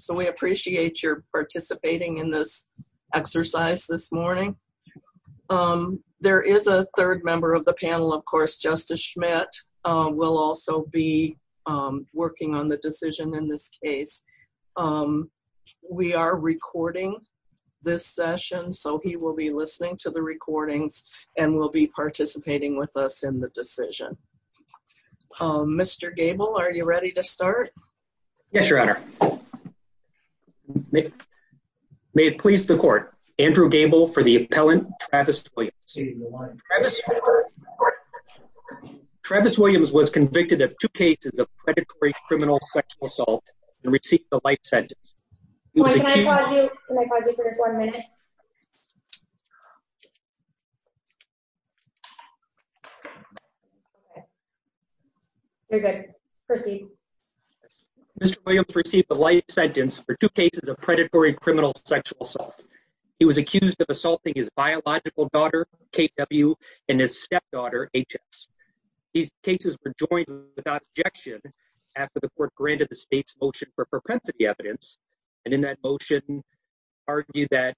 So we appreciate your participating in this exercise this morning. There is a third member of the panel, of course, Justice Schmidt, will also be working on the decision in this case. We are recording this session, so he will be listening to the recordings and will be participating with us in the decision. Mr. Gable, are you ready to start? Mr. Gable Yes, Your Honor. May it please the court, Andrew Gable for the appellant, Travis Williams. Travis Williams was convicted of two cases of predatory criminal sexual assault and received the life sentence. Ms. Schmidt Can I pause you for just one minute? You're good. Proceed. Mr. Williams received the life sentence for two cases of predatory criminal sexual assault. He was accused of assaulting his biological daughter, K.W., and his stepdaughter, H.S. These cases were joined without objection after the court granted the state's motion for propensity evidence, and in that motion argued that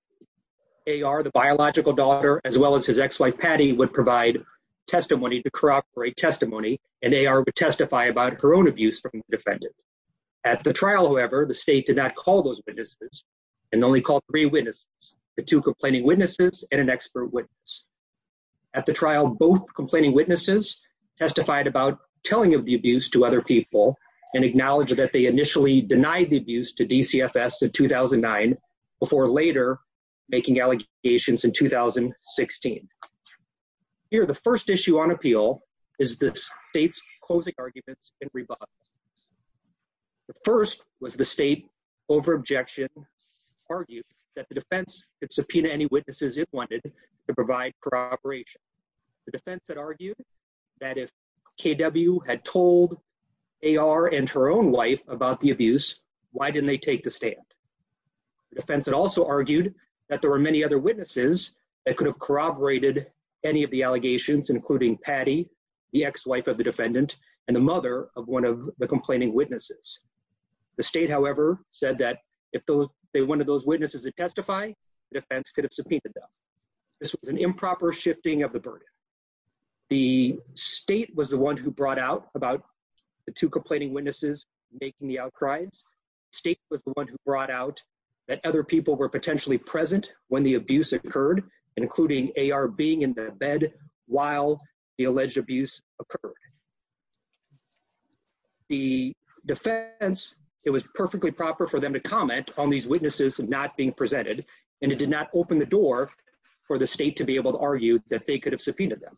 A.R., the biological daughter, as well as his ex-wife, Patty, would provide testimony to corroborate testimony, and A.R. would testify about her own abuse from the defendant. At the trial, however, the state did not call those witnesses and only called three witnesses, the two complaining witnesses and an expert witness. At the trial, both complaining witnesses testified about telling of the abuse to other people and acknowledged that they initially denied the abuse to DCFS in 2009 before later making allegations in 2016. Here, the first issue on appeal is the state's closing arguments and rebuttals. The first was the state, over objection, argued that the defense could subpoena any witnesses it wanted to provide corroboration. The defense had argued that if K.W. had told A.R. and her own wife about the abuse, why didn't they take the stand? The defense had also argued that there were many other witnesses that could have corroborated any of the allegations, including Patty, the ex-wife of the defendant, and the mother of one of the complaining witnesses. The state, however, said that if one of those witnesses had testified, the defense could have subpoenaed them. This was an improper shifting of the burden. The state was the one who brought out about the two complaining witnesses making the outcries. The state was the one who brought out that other people were potentially present when the abuse occurred, including A.R. being in the bed while the alleged abuse occurred. The defense, it was perfectly proper for them to comment on these witnesses not being presented, and it did not open the door for the state to be able to argue that they could have subpoenaed them.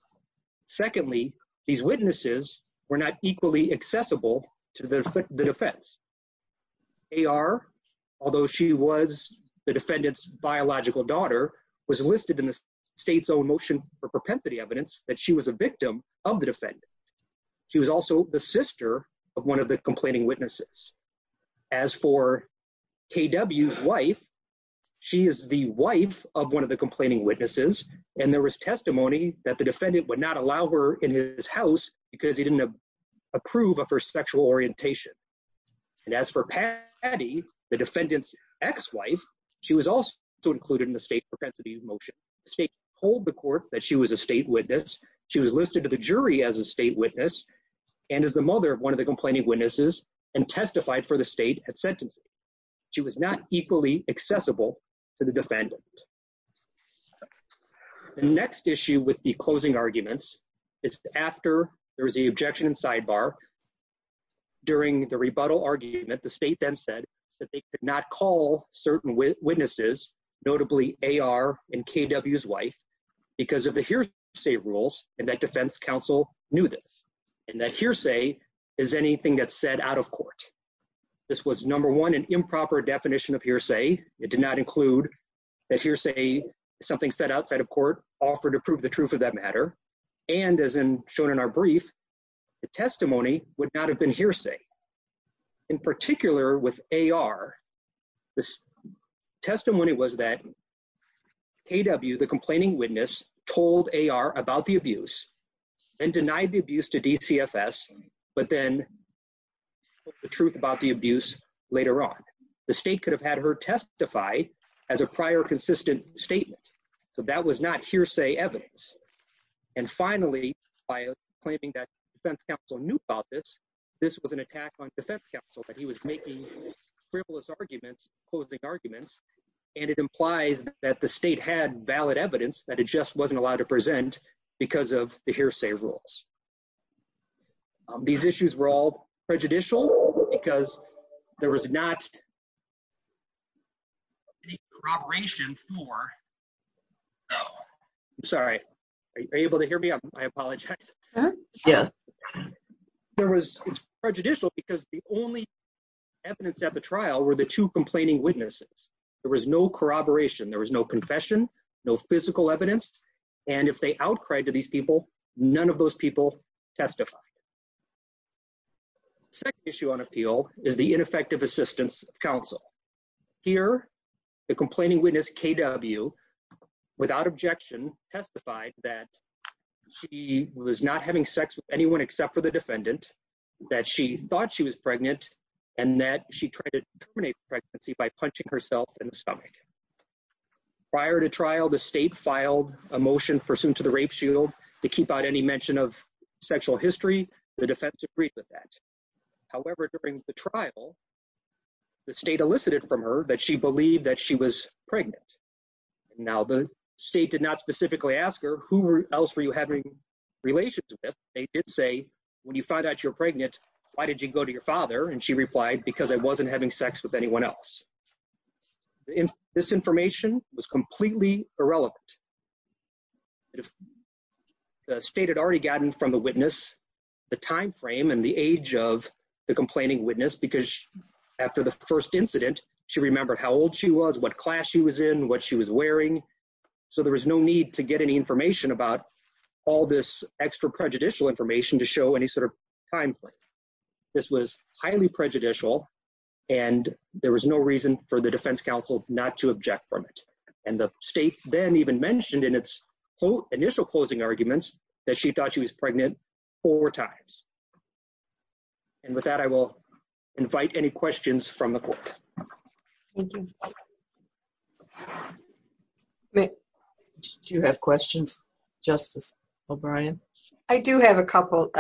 Secondly, these witnesses were not equally accessible to the defense. A.R., although she was the defendant's biological daughter, was listed in the state's own motion for propensity evidence that she was a victim of the defendant. She was also the sister of one of the complaining witnesses. As for K.W.'s wife, she is the wife of one of the complaining witnesses, and there was testimony that the defendant would not allow her in his house because he didn't approve of her sexual orientation. And as for Patty, the defendant's ex-wife, she was also included in the state propensity motion. The state told the court that she was a state witness. She was listed to the jury as a state witness and as the mother of one of the complaining witnesses and testified for the state at sentencing. She was not equally accessible to the defendant. The next issue with the closing arguments is after there was the objection and sidebar. During the rebuttal argument, the state then said that they could not call certain witnesses, notably A.R. and K.W.'s wife, because of the hearsay rules and that defense counsel knew this. And that hearsay is anything that's said out of court. This was, number one, an improper definition of hearsay. It did not include that hearsay is something said outside of court, offered to prove the truth of that matter. And as shown in our brief, the testimony would not have been hearsay. In particular with A.R., the testimony was that K.W., the complaining witness, told A.R. about the abuse and denied the abuse to DCFS, but then the truth about the abuse later on. The state could have had her testified as a prior consistent statement, but that was not hearsay evidence. And finally, by claiming that defense counsel knew about this, this was an attack on defense counsel that he was making frivolous arguments, closing arguments, and it implies that the state had valid evidence that it just wasn't allowed to present because of the hearsay rules. These issues were all prejudicial because there was not any corroboration for... I'm sorry. Are you able to hear me? I apologize. Yes. There was, it's prejudicial because the only evidence at the trial were the two complaining witnesses. There was no corroboration. There was no confession, no physical evidence. And if they outcried to these people, none of those people testified. The second issue on appeal is the ineffective assistance of counsel. Here, the complaining witness K.W., without objection, testified that she was not having sex with anyone except for the defendant, that she thought she was pregnant, and that she tried to terminate the pregnancy by punching herself in the stomach. Prior to trial, the state filed a motion pursuant to the rape shield to keep out any mention of sexual history. The defense agreed with that. However, during the trial, the state elicited from her that she believed that she was pregnant. Now, the state did not specifically ask her, who else were you having relations with? They did say, when you find out you're pregnant, why did you go to your father? And she replied, because I wasn't having sex with anyone else. This information was completely irrelevant. The state had already gotten from the witness the time frame and the age of the complaining witness, because after the first incident, she remembered how old she was, what class she was in, what she was wearing. So there was no need to get any information about all this extra prejudicial information to show any sort of time frame. This was highly prejudicial, and there was no reason for the defense counsel not to object from it. And the state then even mentioned in its initial closing arguments that she thought she was pregnant four times. And with that, I will invite any questions from the court. Thank you. Do you have questions, Justice O'Brien? I do have a couple.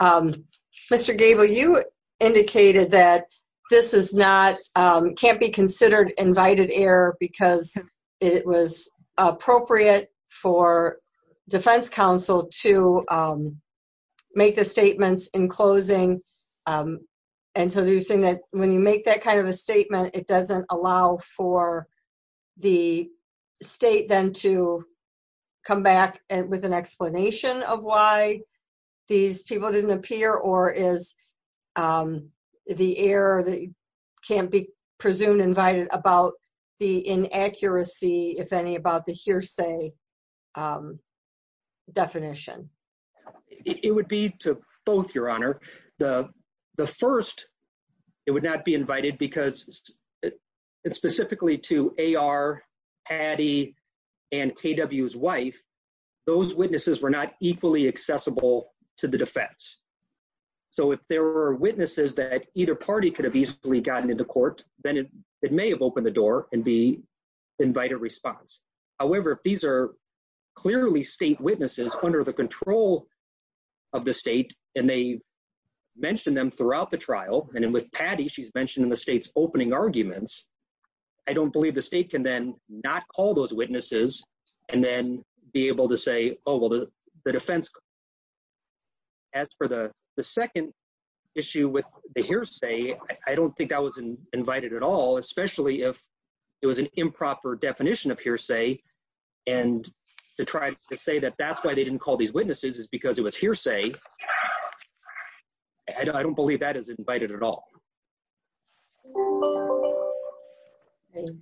Mr. Gabel, you indicated that this can't be considered invited error because it was appropriate for defense counsel to make the statements in closing. And so you're saying that when you make that kind of a statement, it doesn't allow for the state then to come back with an explanation of why these people didn't appear or is the error that can't be presumed invited about the inaccuracy, if any, about the hearsay definition? It would be to both, Your Honor. The first, it would not be invited because it's specifically to A.R., Patty, and K.W.'s wife. Those witnesses were not equally accessible to the defense. So if there were witnesses that either party could have easily gotten into court, then it may have opened the door and be invited response. However, if these are clearly state witnesses under the control of the state and they mentioned them throughout the trial, and with Patty, she's mentioned in the state's opening arguments, I don't believe the state can then not call those witnesses and then be able to say, oh, well, the defense. As for the second issue with the hearsay, I don't think I was invited at all, especially if it was an improper definition of hearsay. And to try to say that that's why they didn't call these witnesses is because it was hearsay. I don't believe that is invited at all. Let's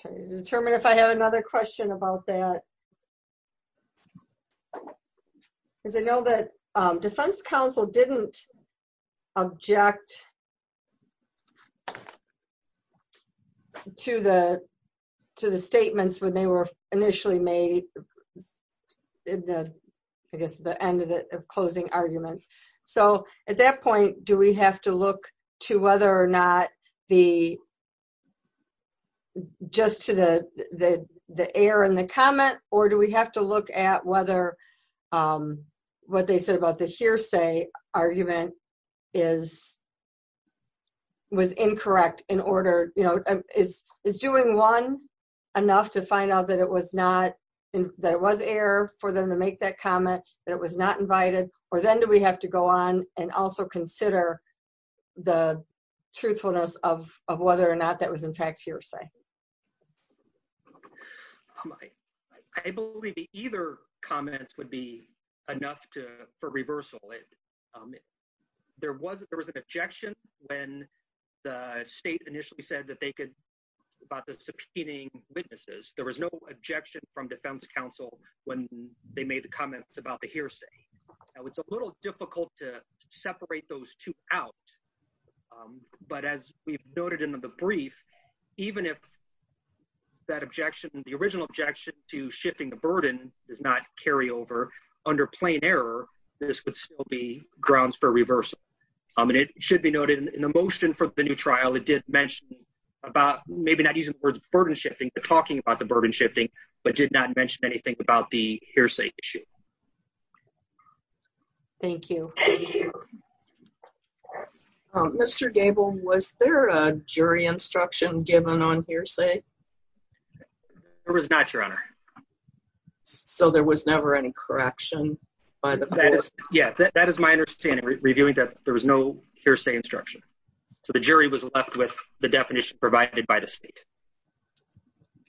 try to determine if I have another question about that. Because I know that defense counsel didn't object to the statements when they were initially made in the, I guess the end of the closing arguments. So at that point, do we have to look to whether or not the just to the, the air in the comment, or do we have to look at whether what they said about the hearsay argument is was incorrect in order to, is doing one enough to find out that it was not, that it was air for them to make that comment, that it was not invited, or then do we have to go on and also consider the truthfulness of whether or not that was in fact hearsay? I believe either comments would be enough to, for reversal. There wasn't, there was an objection when the state initially said that they could, about the subpoenaing witnesses. There was no objection from defense counsel when they made the comments about the hearsay. Now it's a little difficult to separate those two out. But as we've noted in the brief, even if that objection, the original objection to shifting the burden does not carry over under plain error, this would still be grounds for reversal. And it should be noted in the motion for the new trial. It did mention about maybe not using the word burden shifting, but talking about the burden shifting, but did not mention anything about the hearsay issue. Thank you. Mr. Gable, was there a jury instruction given on hearsay? There was not, Your Honor. So there was never any correction by the court? Yeah, that is my understanding, reviewing that there was no hearsay instruction. So the jury was left with the definition provided by the state.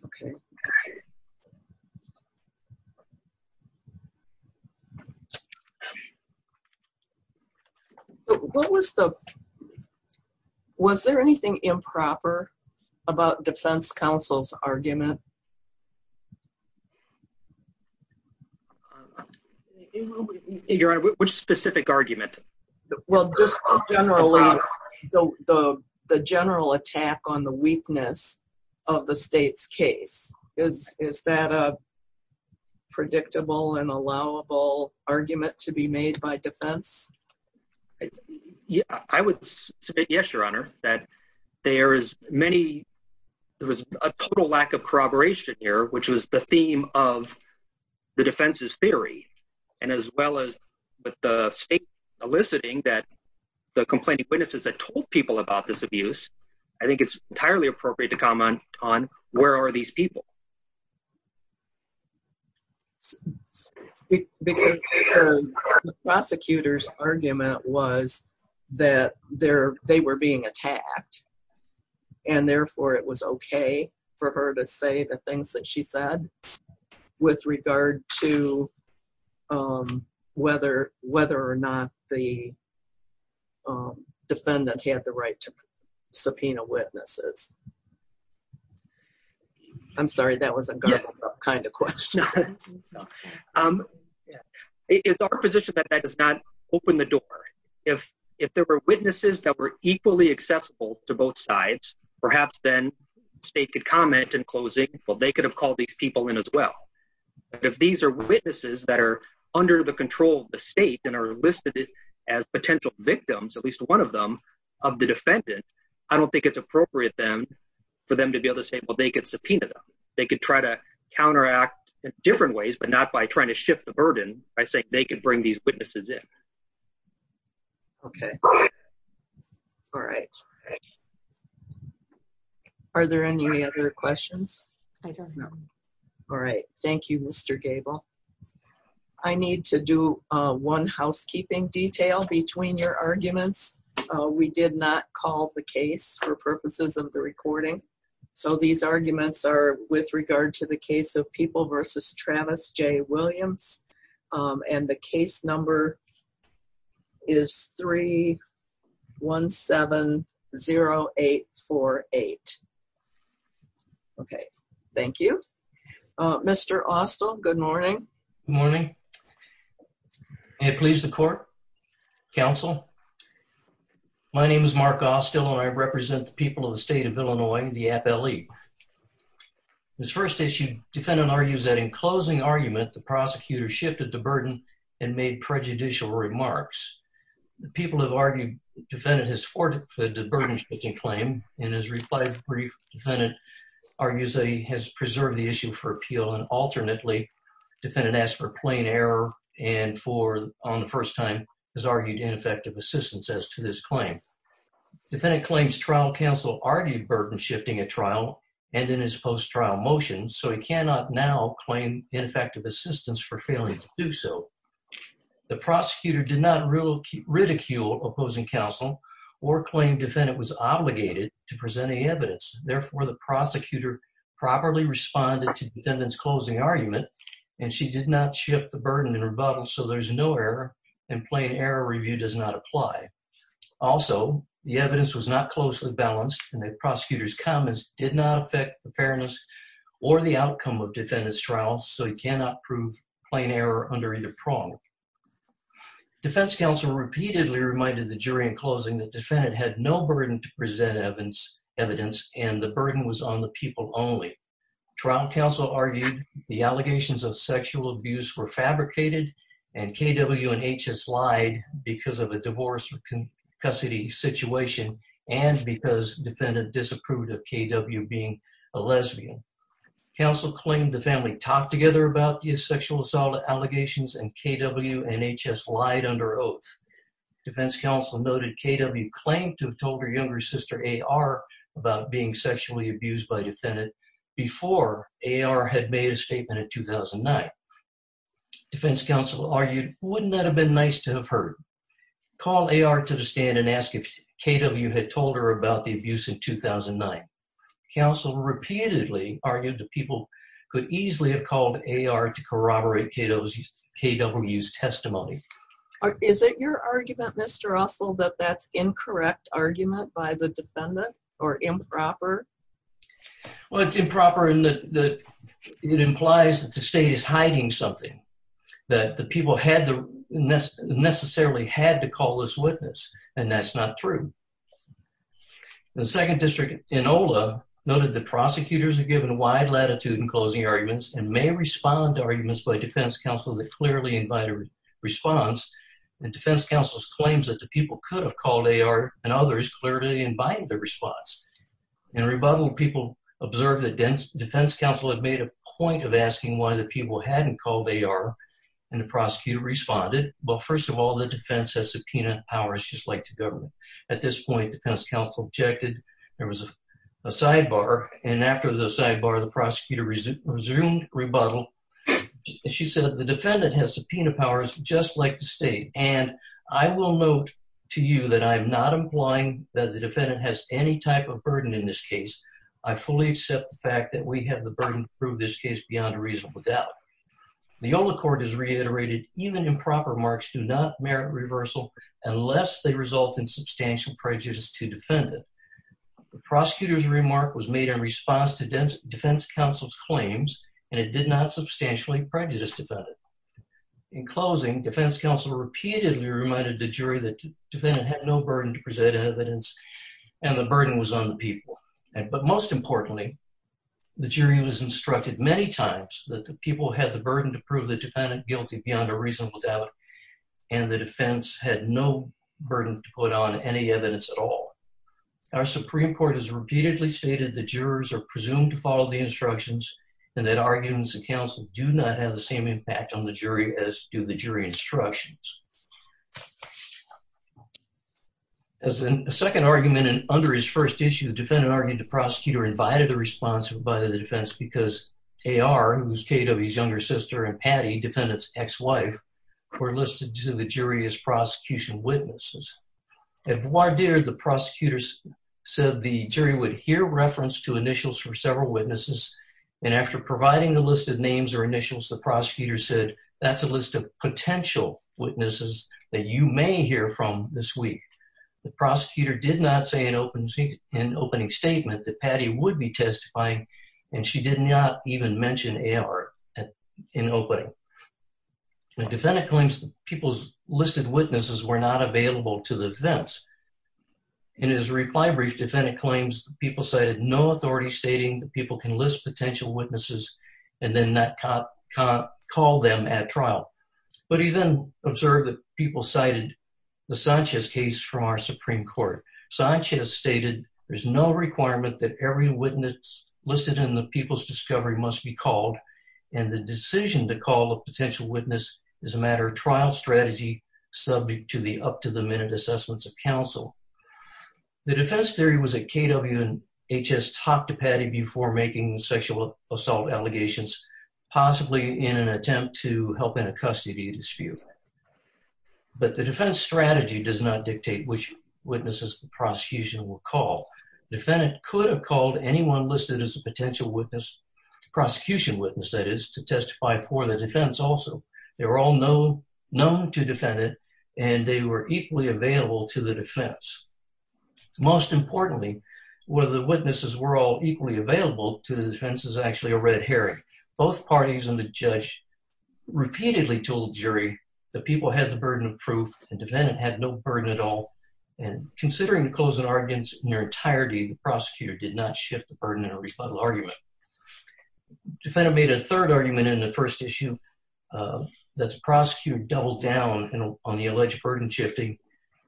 Okay. Okay. What was the, was there anything improper about defense counsel's argument? Your Honor, which specific argument? Well, just generally, the general attack on the weakness of the state's case. Is that a predictable and allowable argument to be made by defense? Yeah, I would submit yes, Your Honor, that there is many, there was a total lack of corroboration here, which was the theme of the defense's theory, and as well as the state eliciting that the complaining witnesses had told people about this abuse. I think it's entirely appropriate to comment on where are these people? The prosecutor's argument was that they were being attacked, and therefore it was okay for her to say the things that she said, with regard to whether or not the defendant had the right to subpoena witnesses. I'm sorry, that was a garbled up kind of question. It's our position that that does not open the door. If there were witnesses that were equally accessible to both sides, perhaps then the state could comment in closing, well, they could have called these people in as well. But if these are witnesses that are under the control of the state and are listed as potential victims, at least one of them, of the defendant, I don't think it's appropriate for them to be able to say, well, they could subpoena them. They could try to counteract in different ways, but not by trying to shift the burden, by saying they could bring these witnesses in. Okay. All right. Are there any other questions? I don't know. All right. Thank you, Mr. Gable. I need to do one housekeeping detail between your arguments. We did not call the case for purposes of the recording. So these arguments are with regard to the case of People v. Travis J. Williams, and the case number is 3-170-848. Okay. Thank you. Mr. Austell, good morning. Good morning. May it please the court, counsel. My name is Mark Austell, and I represent the people of the state of Illinois, the FLE. This first issue, defendant argues that in closing argument, the prosecutor shifted the burden and made prejudicial remarks. People have argued, defendant has forfeited the burden-shifting claim, and has replied to the brief. Defendant argues that he has preserved the issue for appeal, and alternately, defendant asked for plain error, and for, on the first time, has argued ineffective assistance as to this claim. Defendant claims trial counsel argued burden-shifting at trial, and in his post-trial motion, so he cannot now claim ineffective assistance for failing to do so. The prosecutor did not ridicule opposing counsel, or claim defendant was obligated to present any evidence. Therefore, the prosecutor properly responded to defendant's closing argument, and she did not shift the burden in rebuttal, so there's no error, and plain error review does not apply. Also, the evidence was not closely balanced, and the prosecutor's comments did not affect the fairness, or the outcome of defendant's trial, so he cannot prove plain error under either prong. Defense counsel repeatedly reminded the jury in closing that defendant had no burden to present evidence, and the burden was on the people only. Trial counsel argued the allegations of sexual abuse were fabricated, and K.W. and H.S. lied because of a divorce or custody situation, and because defendant disapproved of K.W. being a lesbian. Counsel claimed the family talked together about the sexual assault allegations, and K.W. and H.S. lied under oath. Defense counsel noted K.W. claimed to have told her younger sister, A.R., about being sexually abused by defendant, before A.R. had made a statement in 2009. Defense counsel argued, wouldn't that have been nice to have heard? Call A.R. to the stand and ask if K.W. had told her about the abuse in 2009. Counsel repeatedly argued that people could easily have called A.R. to corroborate K.W.'s testimony. Is it your argument, Mr. Russell, that that's incorrect argument by the defendant, or improper? Well, it's improper in that it implies that the state is hiding something, that the people necessarily had to call this witness, and that's not true. The second district, Enola, noted that prosecutors are given wide latitude in closing arguments, and may respond to arguments by defense counsel that clearly invite a response, and defense counsel's claims that the people could have called A.R. and others clearly invite the response. In rebuttal, people observed that defense counsel had made a point of asking why the people hadn't called A.R., and the prosecutor responded, well, first of all, the defense has subpoena powers just like the government. At this point, defense counsel objected, there was a sidebar, and after the sidebar, the prosecutor resumed rebuttal, and she said the defendant has subpoena powers just like the state, and I will note to you that I am not implying that the defendant has any type of burden in this case. I fully accept the fact that we have the burden to prove this case beyond a reasonable doubt. The Enola Court has reiterated even improper marks do not merit reversal unless they result in substantial prejudice to defendant. The prosecutor's remark was made in response to defense counsel's claims, and it did not substantially prejudice defendant. In closing, defense counsel repeatedly reminded the jury that the burden was on the people. But most importantly, the jury was instructed many times that the people had the burden to prove the defendant guilty beyond a reasonable doubt, and the defense had no burden to put on any evidence at all. Our Supreme Court has repeatedly stated that jurors are presumed to follow the instructions and that arguments of counsel do not have the same impact on the jury as do the jury instructions. As a second argument, and under his first issue, the defendant argued the prosecutor invited a response by the defense because A.R., who was K.W.'s younger sister, and Patty, defendant's ex-wife, were listed to the jury as prosecution witnesses. If voir dire, the prosecutor said the jury would hear reference to initials from several witnesses, and after providing the listed names or initials, the prosecutor said, that's a list of potential witnesses that you may hear from this week. The prosecutor did not say in opening statement that Patty would be testifying, and she did not even mention A.R. in opening. The defendant claims the people's listed witnesses were not available to the defense. In his reply brief, the defendant claims the people cited no authority stating that people can list potential witnesses and then not call them at trial. But he then observed that people cited the Sanchez case from our Supreme Court. Sanchez stated there's no requirement that every witness listed in the people's discovery must be called, and the decision to call a potential witness is a matter of trial strategy, subject to the up-to-the-minute assessments of counsel. The defense theory was that K.W. and H.S. talked to Patty before making sexual assault allegations, possibly in an attempt to help in a custody dispute. But the defense strategy does not dictate which witnesses the prosecution will call. Defendant could have called anyone listed as a potential witness, prosecution witness that is, to testify for the defense also. They were all known to defendant, and they were equally available to the defense. Most importantly, whether the witnesses were all equally available to the defense is actually a red herring. Both parties and the judge repeatedly told the jury the people had the burden of proof and defendant had no burden at all. And considering the closing arguments in their entirety, the prosecutor did not shift the burden in a rebuttal argument. Defendant made a third argument in the first issue that the prosecutor doubled down on the alleged burden shifting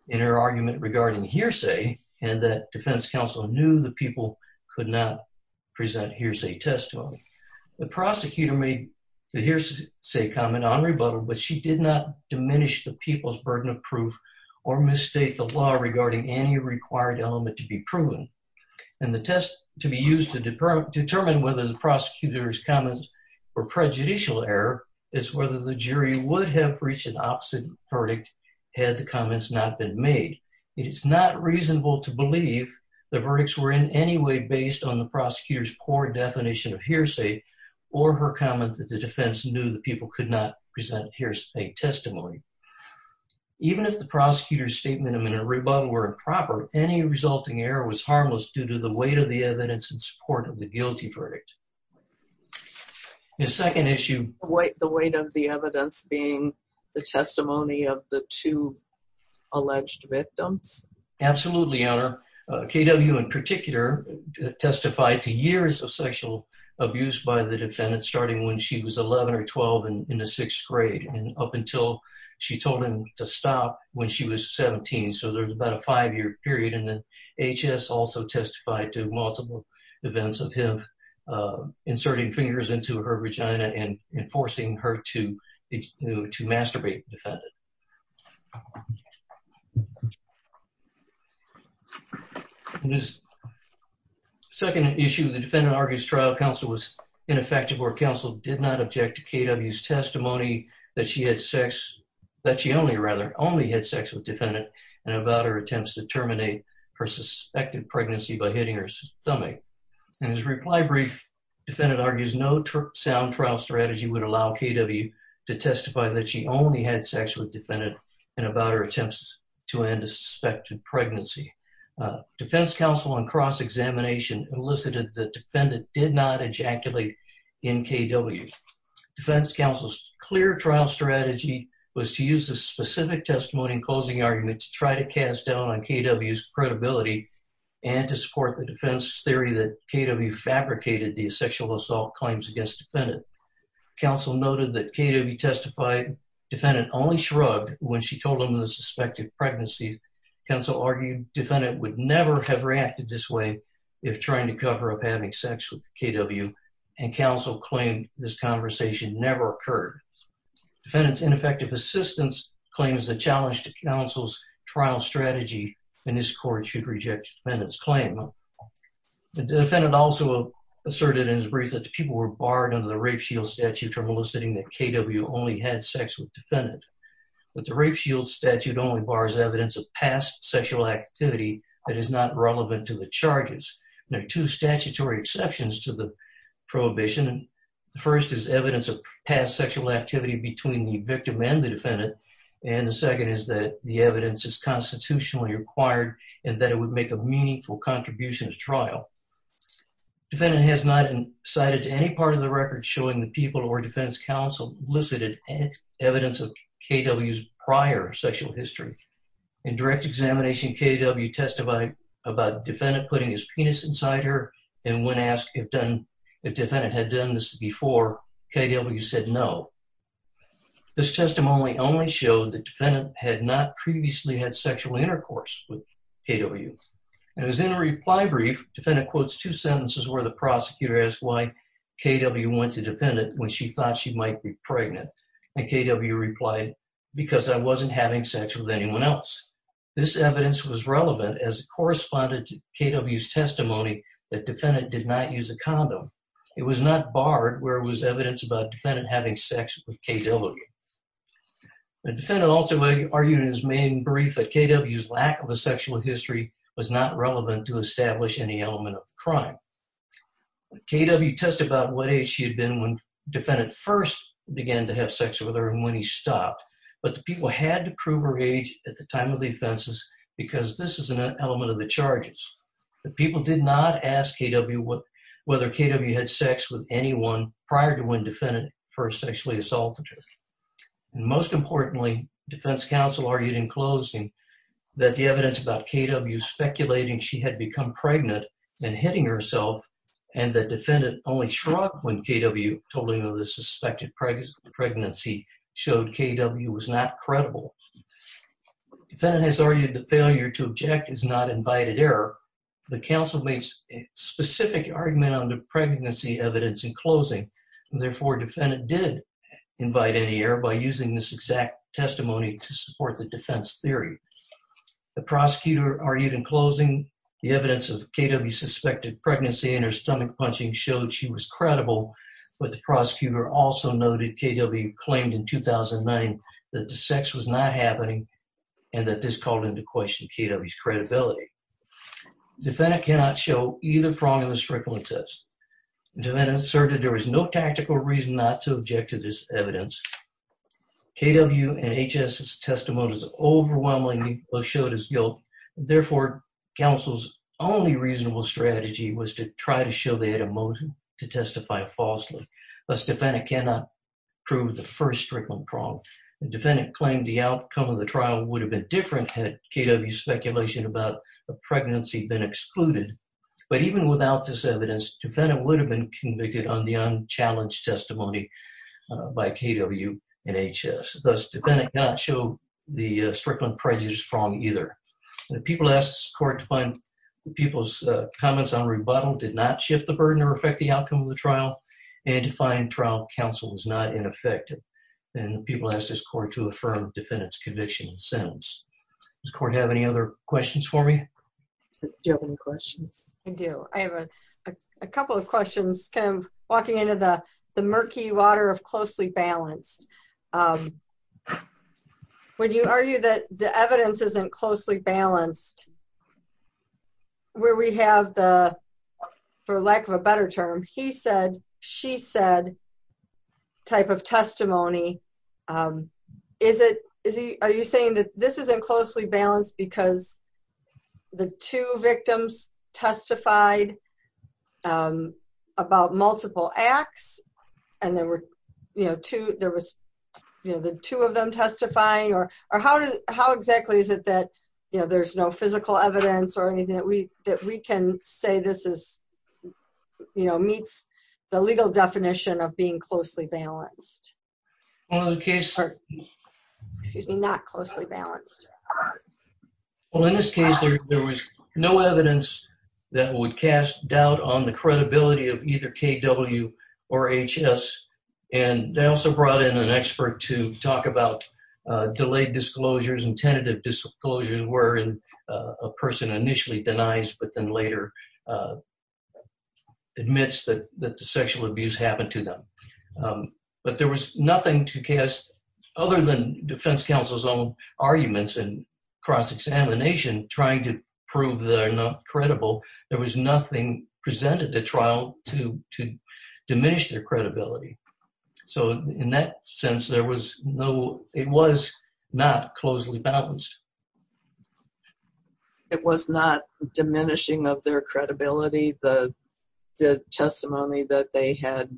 in her argument regarding hearsay, and that defense counsel knew the people could not present hearsay testimony. The prosecutor made the hearsay comment on rebuttal, but she did not diminish the people's burden of proof or misstate the law regarding any required element to be proven. And the test to be used to determine whether the prosecutor's comments were prejudicial error is whether the jury would have reached an opposite verdict had the comments not been made. It is not reasonable to believe the verdicts were in any way based on the prosecutor's poor definition of hearsay or her comment that the defense knew the people could not present hearsay testimony. Even if the prosecutor's statement in a rebuttal were improper, any resulting error was harmless due to the weight of the evidence in support of the guilty verdict. The second issue... The weight of the evidence being the testimony of the two alleged victims? Absolutely, Your Honor. K.W. in particular testified to years of sexual abuse by the defendant, starting when she was 11 or 12 in the sixth grade, and up until she told him to stop when she was 17. So there's about a five-year period. And then A.H.S. also testified to multiple events of him inserting fingers into her vagina and forcing her to masturbate the defendant. The second issue, the defendant argues trial counsel was ineffective or counsel did not object to K.W.'s testimony that she had sex... that she only, rather, only had sex with the defendant and about her attempts to terminate her suspected pregnancy by hitting her stomach. In his reply brief, the defendant argues no sound trial strategy would allow K.W. to testify that she only had sex with the defendant and about her attempts to end a suspected pregnancy. Defense counsel on cross-examination elicited the defendant did not ejaculate in K.W. Defense counsel's clear trial strategy was to use the specific testimony and closing argument to try to cast doubt on K.W.'s credibility and to support the defense theory that K.W. fabricated the sexual assault claims against the defendant. Counsel noted that K.W. testified the defendant only shrugged when she told him of the suspected pregnancy. Counsel argued the defendant would never have reacted this way if trying to cover up having sex with K.W. and counsel claimed this conversation never occurred. Defendant's ineffective assistance claims the challenge to counsel's trial strategy and this court should reject the defendant's claim. The defendant also asserted in his brief that the people were barred under the Rape Shield Statute from eliciting that K.W. only had sex with the defendant. But the Rape Shield Statute only bars evidence of past sexual activity that is not relevant to the charges. There are two statutory exceptions to the prohibition. The first is evidence of past sexual activity between the victim and the defendant and the second is that the evidence is constitutionally required and that it would make a meaningful contribution to the trial. Defendant has not cited any part of the record showing the people or defense counsel elicited evidence of K.W.'s prior sexual history. In direct examination, K.W. testified about defendant putting his penis inside her and when asked if defendant had done this before, K.W. said no. This testimony only showed that defendant had not previously had sexual intercourse with K.W. And as in a reply brief, defendant quotes two sentences where the prosecutor asked why K.W. went to defendant when she thought she might be pregnant and K.W. replied, because I wasn't having sex with anyone else. This evidence was relevant as it corresponded to K.W.'s testimony that defendant did not use a condom. It was not barred where it was evidence about defendant having sex with K.W. The defendant also argued in his main brief that K.W.'s lack of a sexual history K.W. testified about what age she had been when defendant first began to have sex with her and when he stopped, but the people had to prove her age at the time of the offenses because this is an element of the charges. The people did not ask K.W. whether K.W. had sex with anyone prior to when defendant first sexually assaulted her. Most importantly, defense counsel argued in closing that the evidence about K.W. speculating she had become pregnant and hitting herself and that defendant only shrugged when K.W. told him of the suspected pregnancy showed K.W. was not credible. Defendant has argued that failure to object is not invited error. The counsel made specific argument on the pregnancy evidence in closing. Therefore, defendant did invite any error by using this exact testimony to support the defense theory. The prosecutor argued in closing the evidence of K.W.'s suspected pregnancy and her stomach punching showed she was credible, but the prosecutor also noted K.W. claimed in 2009 that the sex was not happening and that this called into question K.W.'s credibility. Defendant cannot show either prong of the circumstances. Defendant asserted there was no tactical reason not to object to this evidence. K.W. and H.S.'s testimony overwhelmingly showed his guilt. Therefore, counsel's only reasonable strategy was to try to show they had a motive to testify falsely. Thus, defendant cannot prove the first strickling prong. Defendant claimed the outcome of the trial would have been different had K.W.'s speculation about the pregnancy been excluded. But even without this evidence, defendant would have been convicted on the unchallenged testimony by K.W. and H.S. Thus, defendant cannot show the strickling prejudice prong either. People asked this court to find people's comments on rebuttal did not shift the burden or affect the outcome of the trial and to find trial counsel was not ineffective. People asked this court to affirm defendant's conviction and sentence. Does the court have any other questions for me? Do you have any questions? I do. I have a couple of questions, kind of walking into the murky water of closely balanced. When you argue that the evidence isn't closely balanced, where we have the, for lack of a better term, he said, she said type of testimony, is it, is he, are you saying that this isn't closely balanced because the two victims testified about multiple acts and there were, you know, two, there was, you know, the two of them testifying or, or how does, how exactly is it that, you know, there's no physical evidence or anything that we, that we can say this is, you know, meets the legal definition of being closely balanced? Well, in this case, there was no evidence that would cast doubt on the credibility of either KW or HS. And they also brought in an expert to talk about delayed disclosures and tentative disclosures where a person initially denies but then later admits that the sexual abuse happened to them. But there was nothing to cast, other than defense counsel's own arguments and cross-examination trying to prove they're not credible, there was nothing presented at trial to diminish their credibility. So in that sense, there was no, it was not closely balanced. It was not diminishing of their credibility, the testimony that they had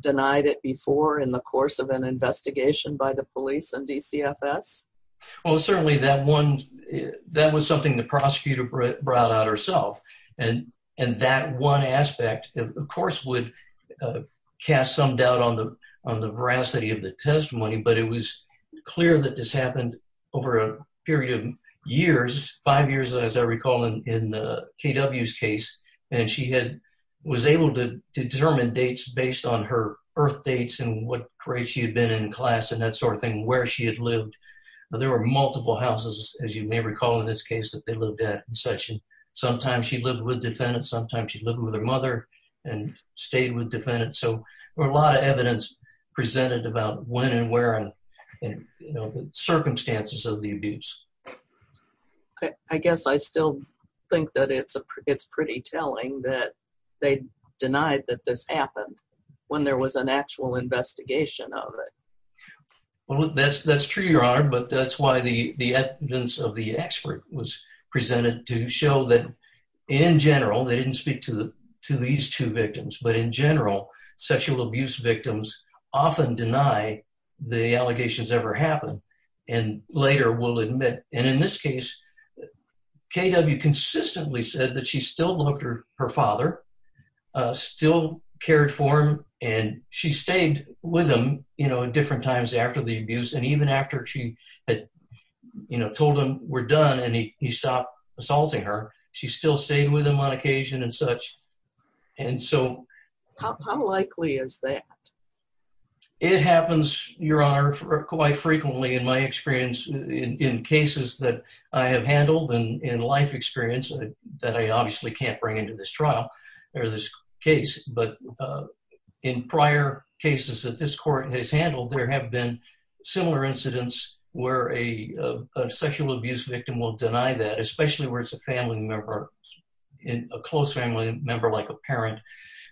denied it before in the course of an investigation by the police and DCFS? Well, certainly that one, that was something the prosecutor brought out herself. And that one aspect, of course, would cast some doubt on the veracity of the testimony, but it was clear that this happened over a period of years, five years, as I recall, in KW's case. And she had, was able to determine dates based on her birth dates and what grade she had been in class and that sort of thing, where she had lived. There were multiple houses, as you may recall in this case, that they lived at in session. Sometimes she lived with defendants, sometimes she lived with her mother and stayed with defendants. So there were a lot of evidence presented about when and where and the circumstances of the abuse. I guess I still think that it's pretty telling that they denied that this happened when there was an actual investigation of it. Well, that's true, Your Honor, but that's why the evidence of the expert was presented to show that, in general, they didn't speak to these two victims, but in general, sexual abuse victims often deny the allegations ever happened, and later will admit. And in this case, KW consistently said that she still loved her father, still cared for him, and she stayed with him, you know, at different times after the abuse. And even after she had told him, we're done, and he stopped assaulting her, she still stayed with him on occasion and such. How likely is that? It happens, Your Honor, quite frequently in my experience in cases that I have handled in life experience that I obviously can't bring into this trial or this case. But in prior cases that this court has handled, there have been similar incidents where a sexual abuse victim will deny that, especially where it's a family member, a close family member like a parent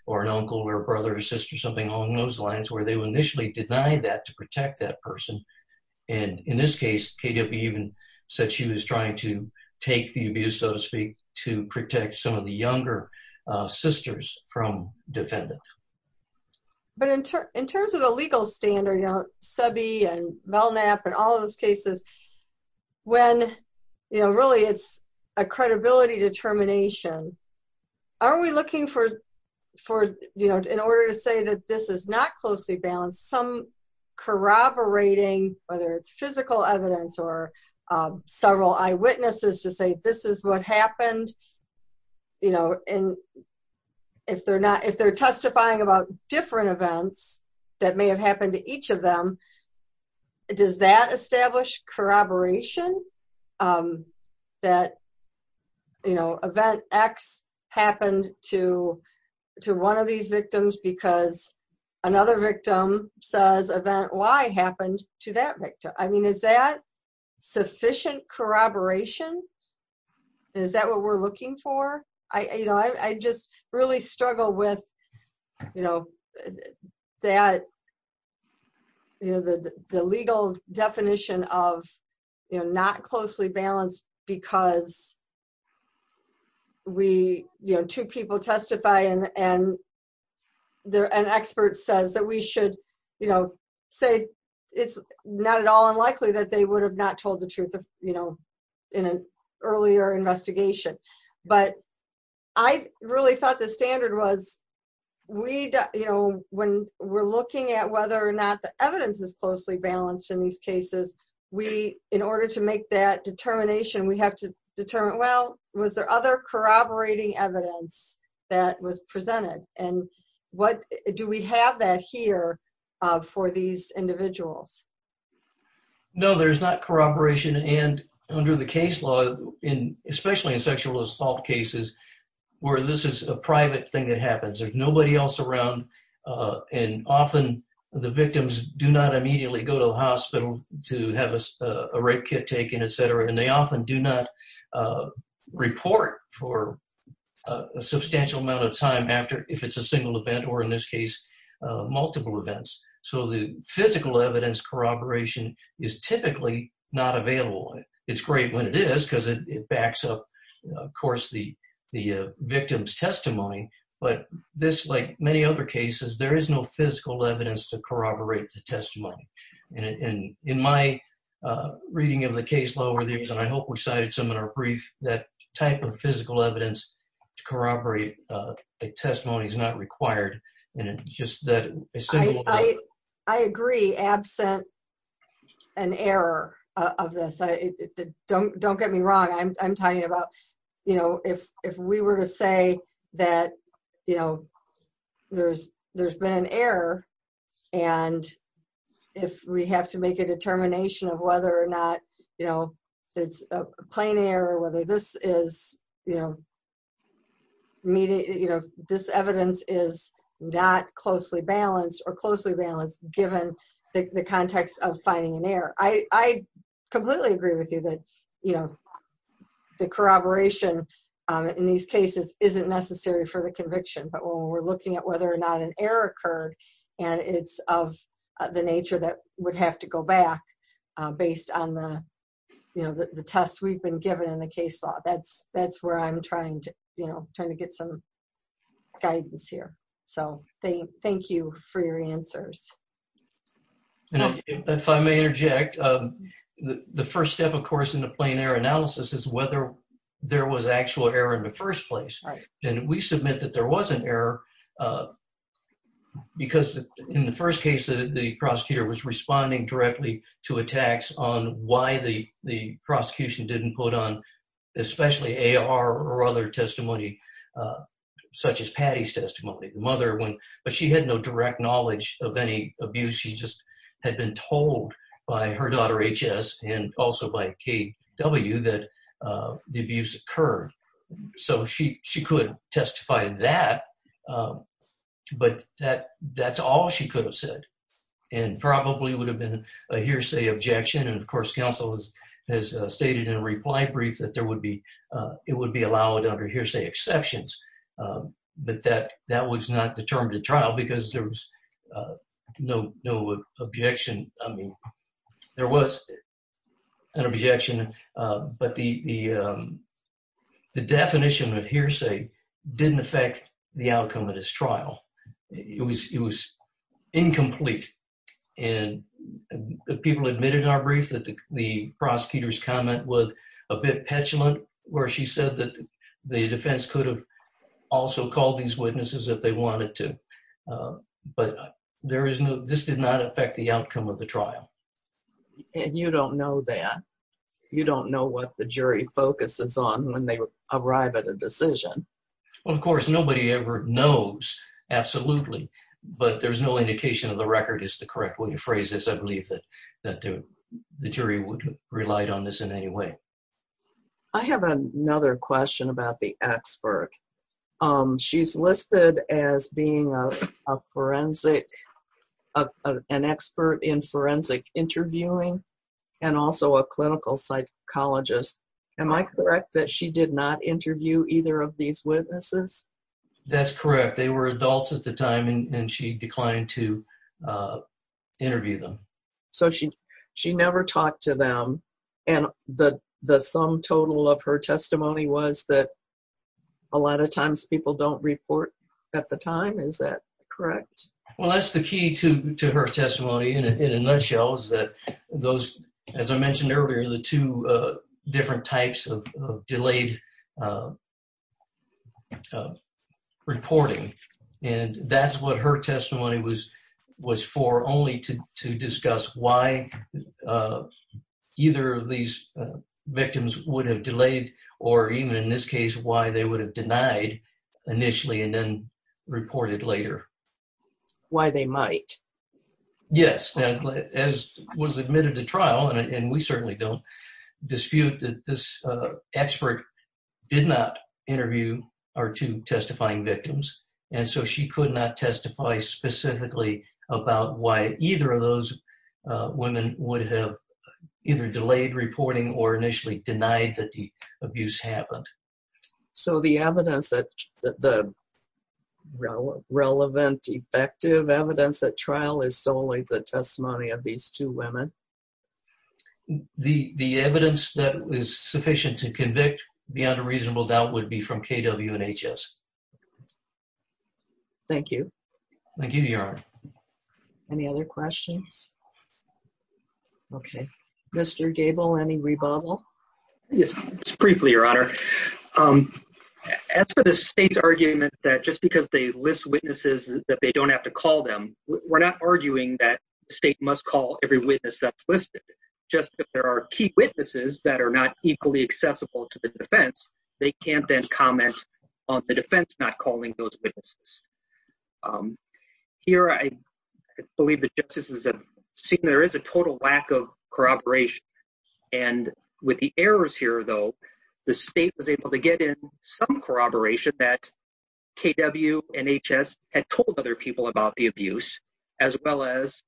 or an uncle or a brother or sister, something along those lines, where they will initially deny that to protect that person. And in this case, KW even said she was trying to take the abuse, so to speak, to protect some of the younger sisters from defending. But in terms of the legal standard, you know, Sebi and Melnap and all of those cases, when, you know, really it's a credibility determination, are we looking for, you know, in order to say that this is not closely balanced, some corroborating, whether it's physical evidence or several eyewitnesses, to say this is what happened, you know, and if they're not, if they're testifying about different events that may have happened to each of them, does that establish corroboration that, you know, event X happened to one of these victims because another victim says event Y happened to that victim? I mean, is that sufficient corroboration? Is that what we're looking for? I just really struggle with, you know, that, you know, the legal definition of, you know, not closely balanced because we, you know, two people testify and an expert says that we should, you know, say it's not at all unlikely that they would have not told the truth, you know, in an earlier investigation. But I really thought the standard was we, you know, when we're looking at whether or not the evidence is closely balanced in these cases, we, in order to make that determination, we have to determine, well, was there other corroborating evidence that was presented? And what, do we have that here for these individuals? No, there's not corroboration. And under the case law, especially in sexual assault cases where this is a private thing that happens, there's nobody else around and often the victims do not immediately go to the hospital to have a rape kit taken, et cetera. And they often do not report for a substantial amount of time after, if it's a single event or in this case, multiple events. So the physical evidence corroboration is typically not available. It's great when it is because it backs up, of course, the victim's testimony. But this, like many other cases, there is no physical evidence to corroborate the testimony. And in my reading of the case law over the years, and I hope we cited some in our brief, that type of physical evidence to corroborate a testimony is not required. I agree, absent an error of this. Don't get me wrong. I'm talking about, you know, if we were to say that, you know, there's been an error, and if we have to make a determination of whether or not, you know, it's a plain error, whether this is, you know, immediate, you know, this evidence is not closely balanced or closely balanced, given the context of finding an error. I completely agree with you that, you know, the corroboration in these cases isn't necessary for the conviction. But when we're looking at whether or not an error occurred, and it's of the nature that would have to go back, based on the, you know, the tests we've been given in the case law. That's where I'm trying to, you know, trying to get some guidance here. So thank you for your answers. If I may interject, the first step, of course, in the plain error analysis is whether there was actual error in the first place. And we submit that there was an error, because in the first case, the prosecutor was responding directly to attacks on why the prosecution didn't put on, especially AR or other testimony, such as Patty's testimony. The mother went, but she had no direct knowledge of any abuse. She just had been told by her daughter, H.S., and also by K.W., that the abuse occurred. So she could testify that. But that's all she could have said. And probably would have been a hearsay objection. And, of course, counsel has stated in a reply brief that there would be ‑‑ it would be allowed under hearsay exceptions. But that was not determined at trial, because there was no objection. There was an objection. But the definition of hearsay didn't affect the outcome of this trial. It was incomplete. And people admitted in our brief that the prosecutor's comment was a bit petulant, where she said that the defense could have also called these witnesses if they wanted to. But this did not affect the outcome of the trial. And you don't know that. You don't know what the jury focuses on when they arrive at a decision. Well, of course, nobody ever knows, absolutely. But there's no indication of the record as to the correct way to phrase this. I believe that the jury would have relied on this in any way. I have another question about the expert. She's listed as being a forensic ‑‑ an expert in forensic interviewing and also a clinical psychologist. Am I correct that she did not interview either of these witnesses? That's correct. They were adults at the time, and she declined to interview them. So she never talked to them. And the sum total of her testimony was that a lot of times people don't report at the time. Is that correct? Well, that's the key to her testimony in a nutshell is that those, as I mentioned earlier, the two different types of delayed reporting, and that's what her testimony was for only to discuss why either of these victims would have delayed or even in this case why they would have denied initially and then reported later. Why they might. Yes. As was admitted to trial, and we certainly don't dispute that this expert did not interview our two testifying victims. And so she could not testify specifically about why either of those women would have either delayed reporting or initially denied that the abuse happened. So the evidence that ‑‑ the relevant, effective evidence at trial is solely the testimony of these two women? The evidence that is sufficient to convict beyond a reasonable doubt would be from KW and HS. Thank you. Thank you, Your Honor. Any other questions? Okay. Mr. Gable, any rebuttal? Yes. Just briefly, Your Honor. As for the state's argument that just because they list witnesses that they don't have to call them, we're not arguing that the state must call every witness that's listed. Just that there are key witnesses that are not equally accessible to the defense, they can't then comment on the defense not calling those witnesses. Here I believe the justices have seen there is a total lack of corroboration. And with the errors here, though, the state was able to get in some corroboration that KW and HS had told other people about the abuse, as well as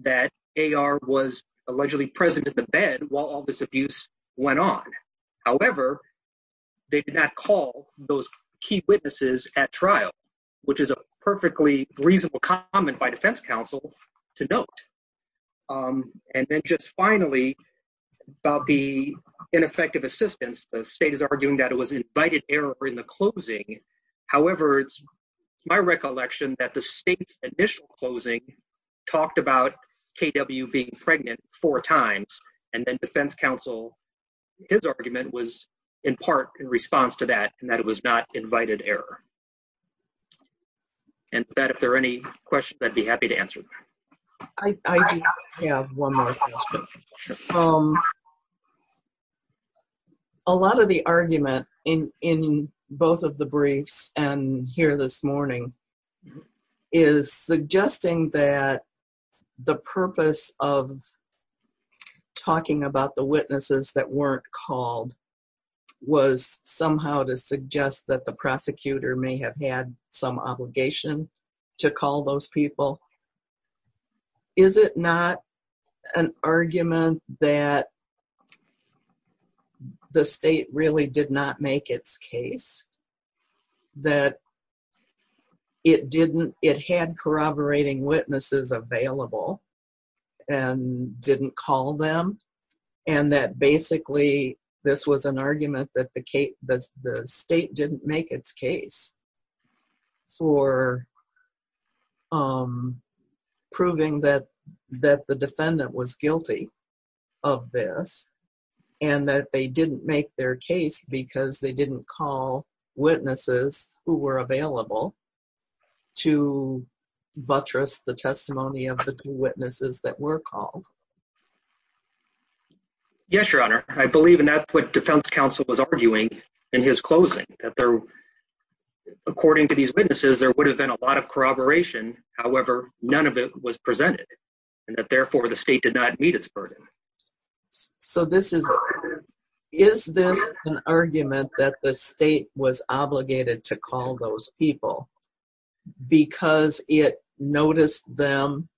that AR was allegedly present in the bed while all this abuse went on. However, they did not call those key witnesses at trial, which is a perfectly reasonable comment by defense counsel to note. And then just finally, about the ineffective assistance, the state is arguing that it was invited error in the closing. However, it's my recollection that the state's initial closing talked about KW being pregnant four times, and then defense counsel, his argument was in part in response to that, and that it was not invited error. And with that, if there are any questions, I'd be happy to answer them. I do have one more question. A lot of the argument in both of the briefs and here this morning is suggesting that the purpose of talking about the witnesses that weren't called was somehow to suggest that the prosecutor may have had some obligation to call those people. Is it not an argument that the state really did not make its case, that it had corroborating witnesses available and didn't call them, and that basically this was an argument that the state didn't make its case for proving that the defendant was guilty of this, and that they didn't make their case because they didn't call witnesses who were available to buttress the testimony of the two witnesses that were called? Yes, Your Honor. I believe, and that's what defense counsel was arguing in his closing, that according to these witnesses, there would have been a lot of corroboration. However, none of it was presented, and that therefore the state did not meet its burden. So is this an argument that the state was obligated to call those people because it noticed them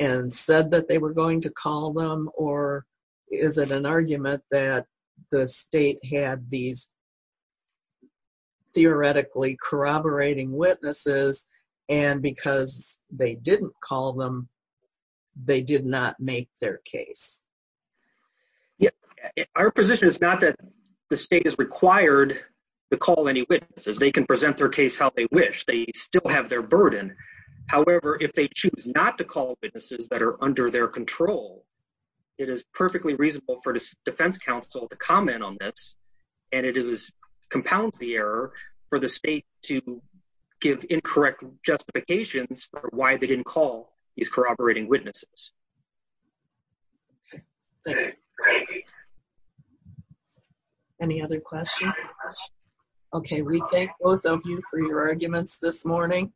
and said that they were going to call them, or is it an argument that the state had these theoretically corroborating witnesses and because they didn't call them, they did not make their case? Our position is not that the state is required to call any witnesses. They can present their case how they wish. They still have their burden. However, if they choose not to call witnesses that are under their control, it is perfectly reasonable for defense counsel to comment on this, and it compounds the error for the state to give incorrect justifications for why they didn't call these corroborating witnesses. Any other questions? Okay, we thank both of you for your arguments this morning.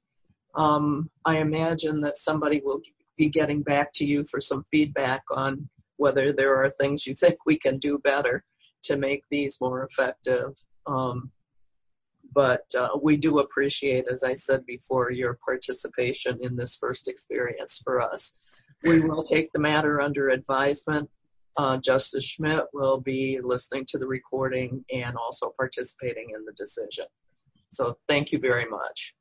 I imagine that somebody will be getting back to you for some feedback on whether there are things you think we can do better to make these more effective. But we do appreciate, as I said before, your participation in this first experience for us. We will take the matter under advisement. Justice Schmidt will be listening to the recording and also participating in the decision. So thank you very much.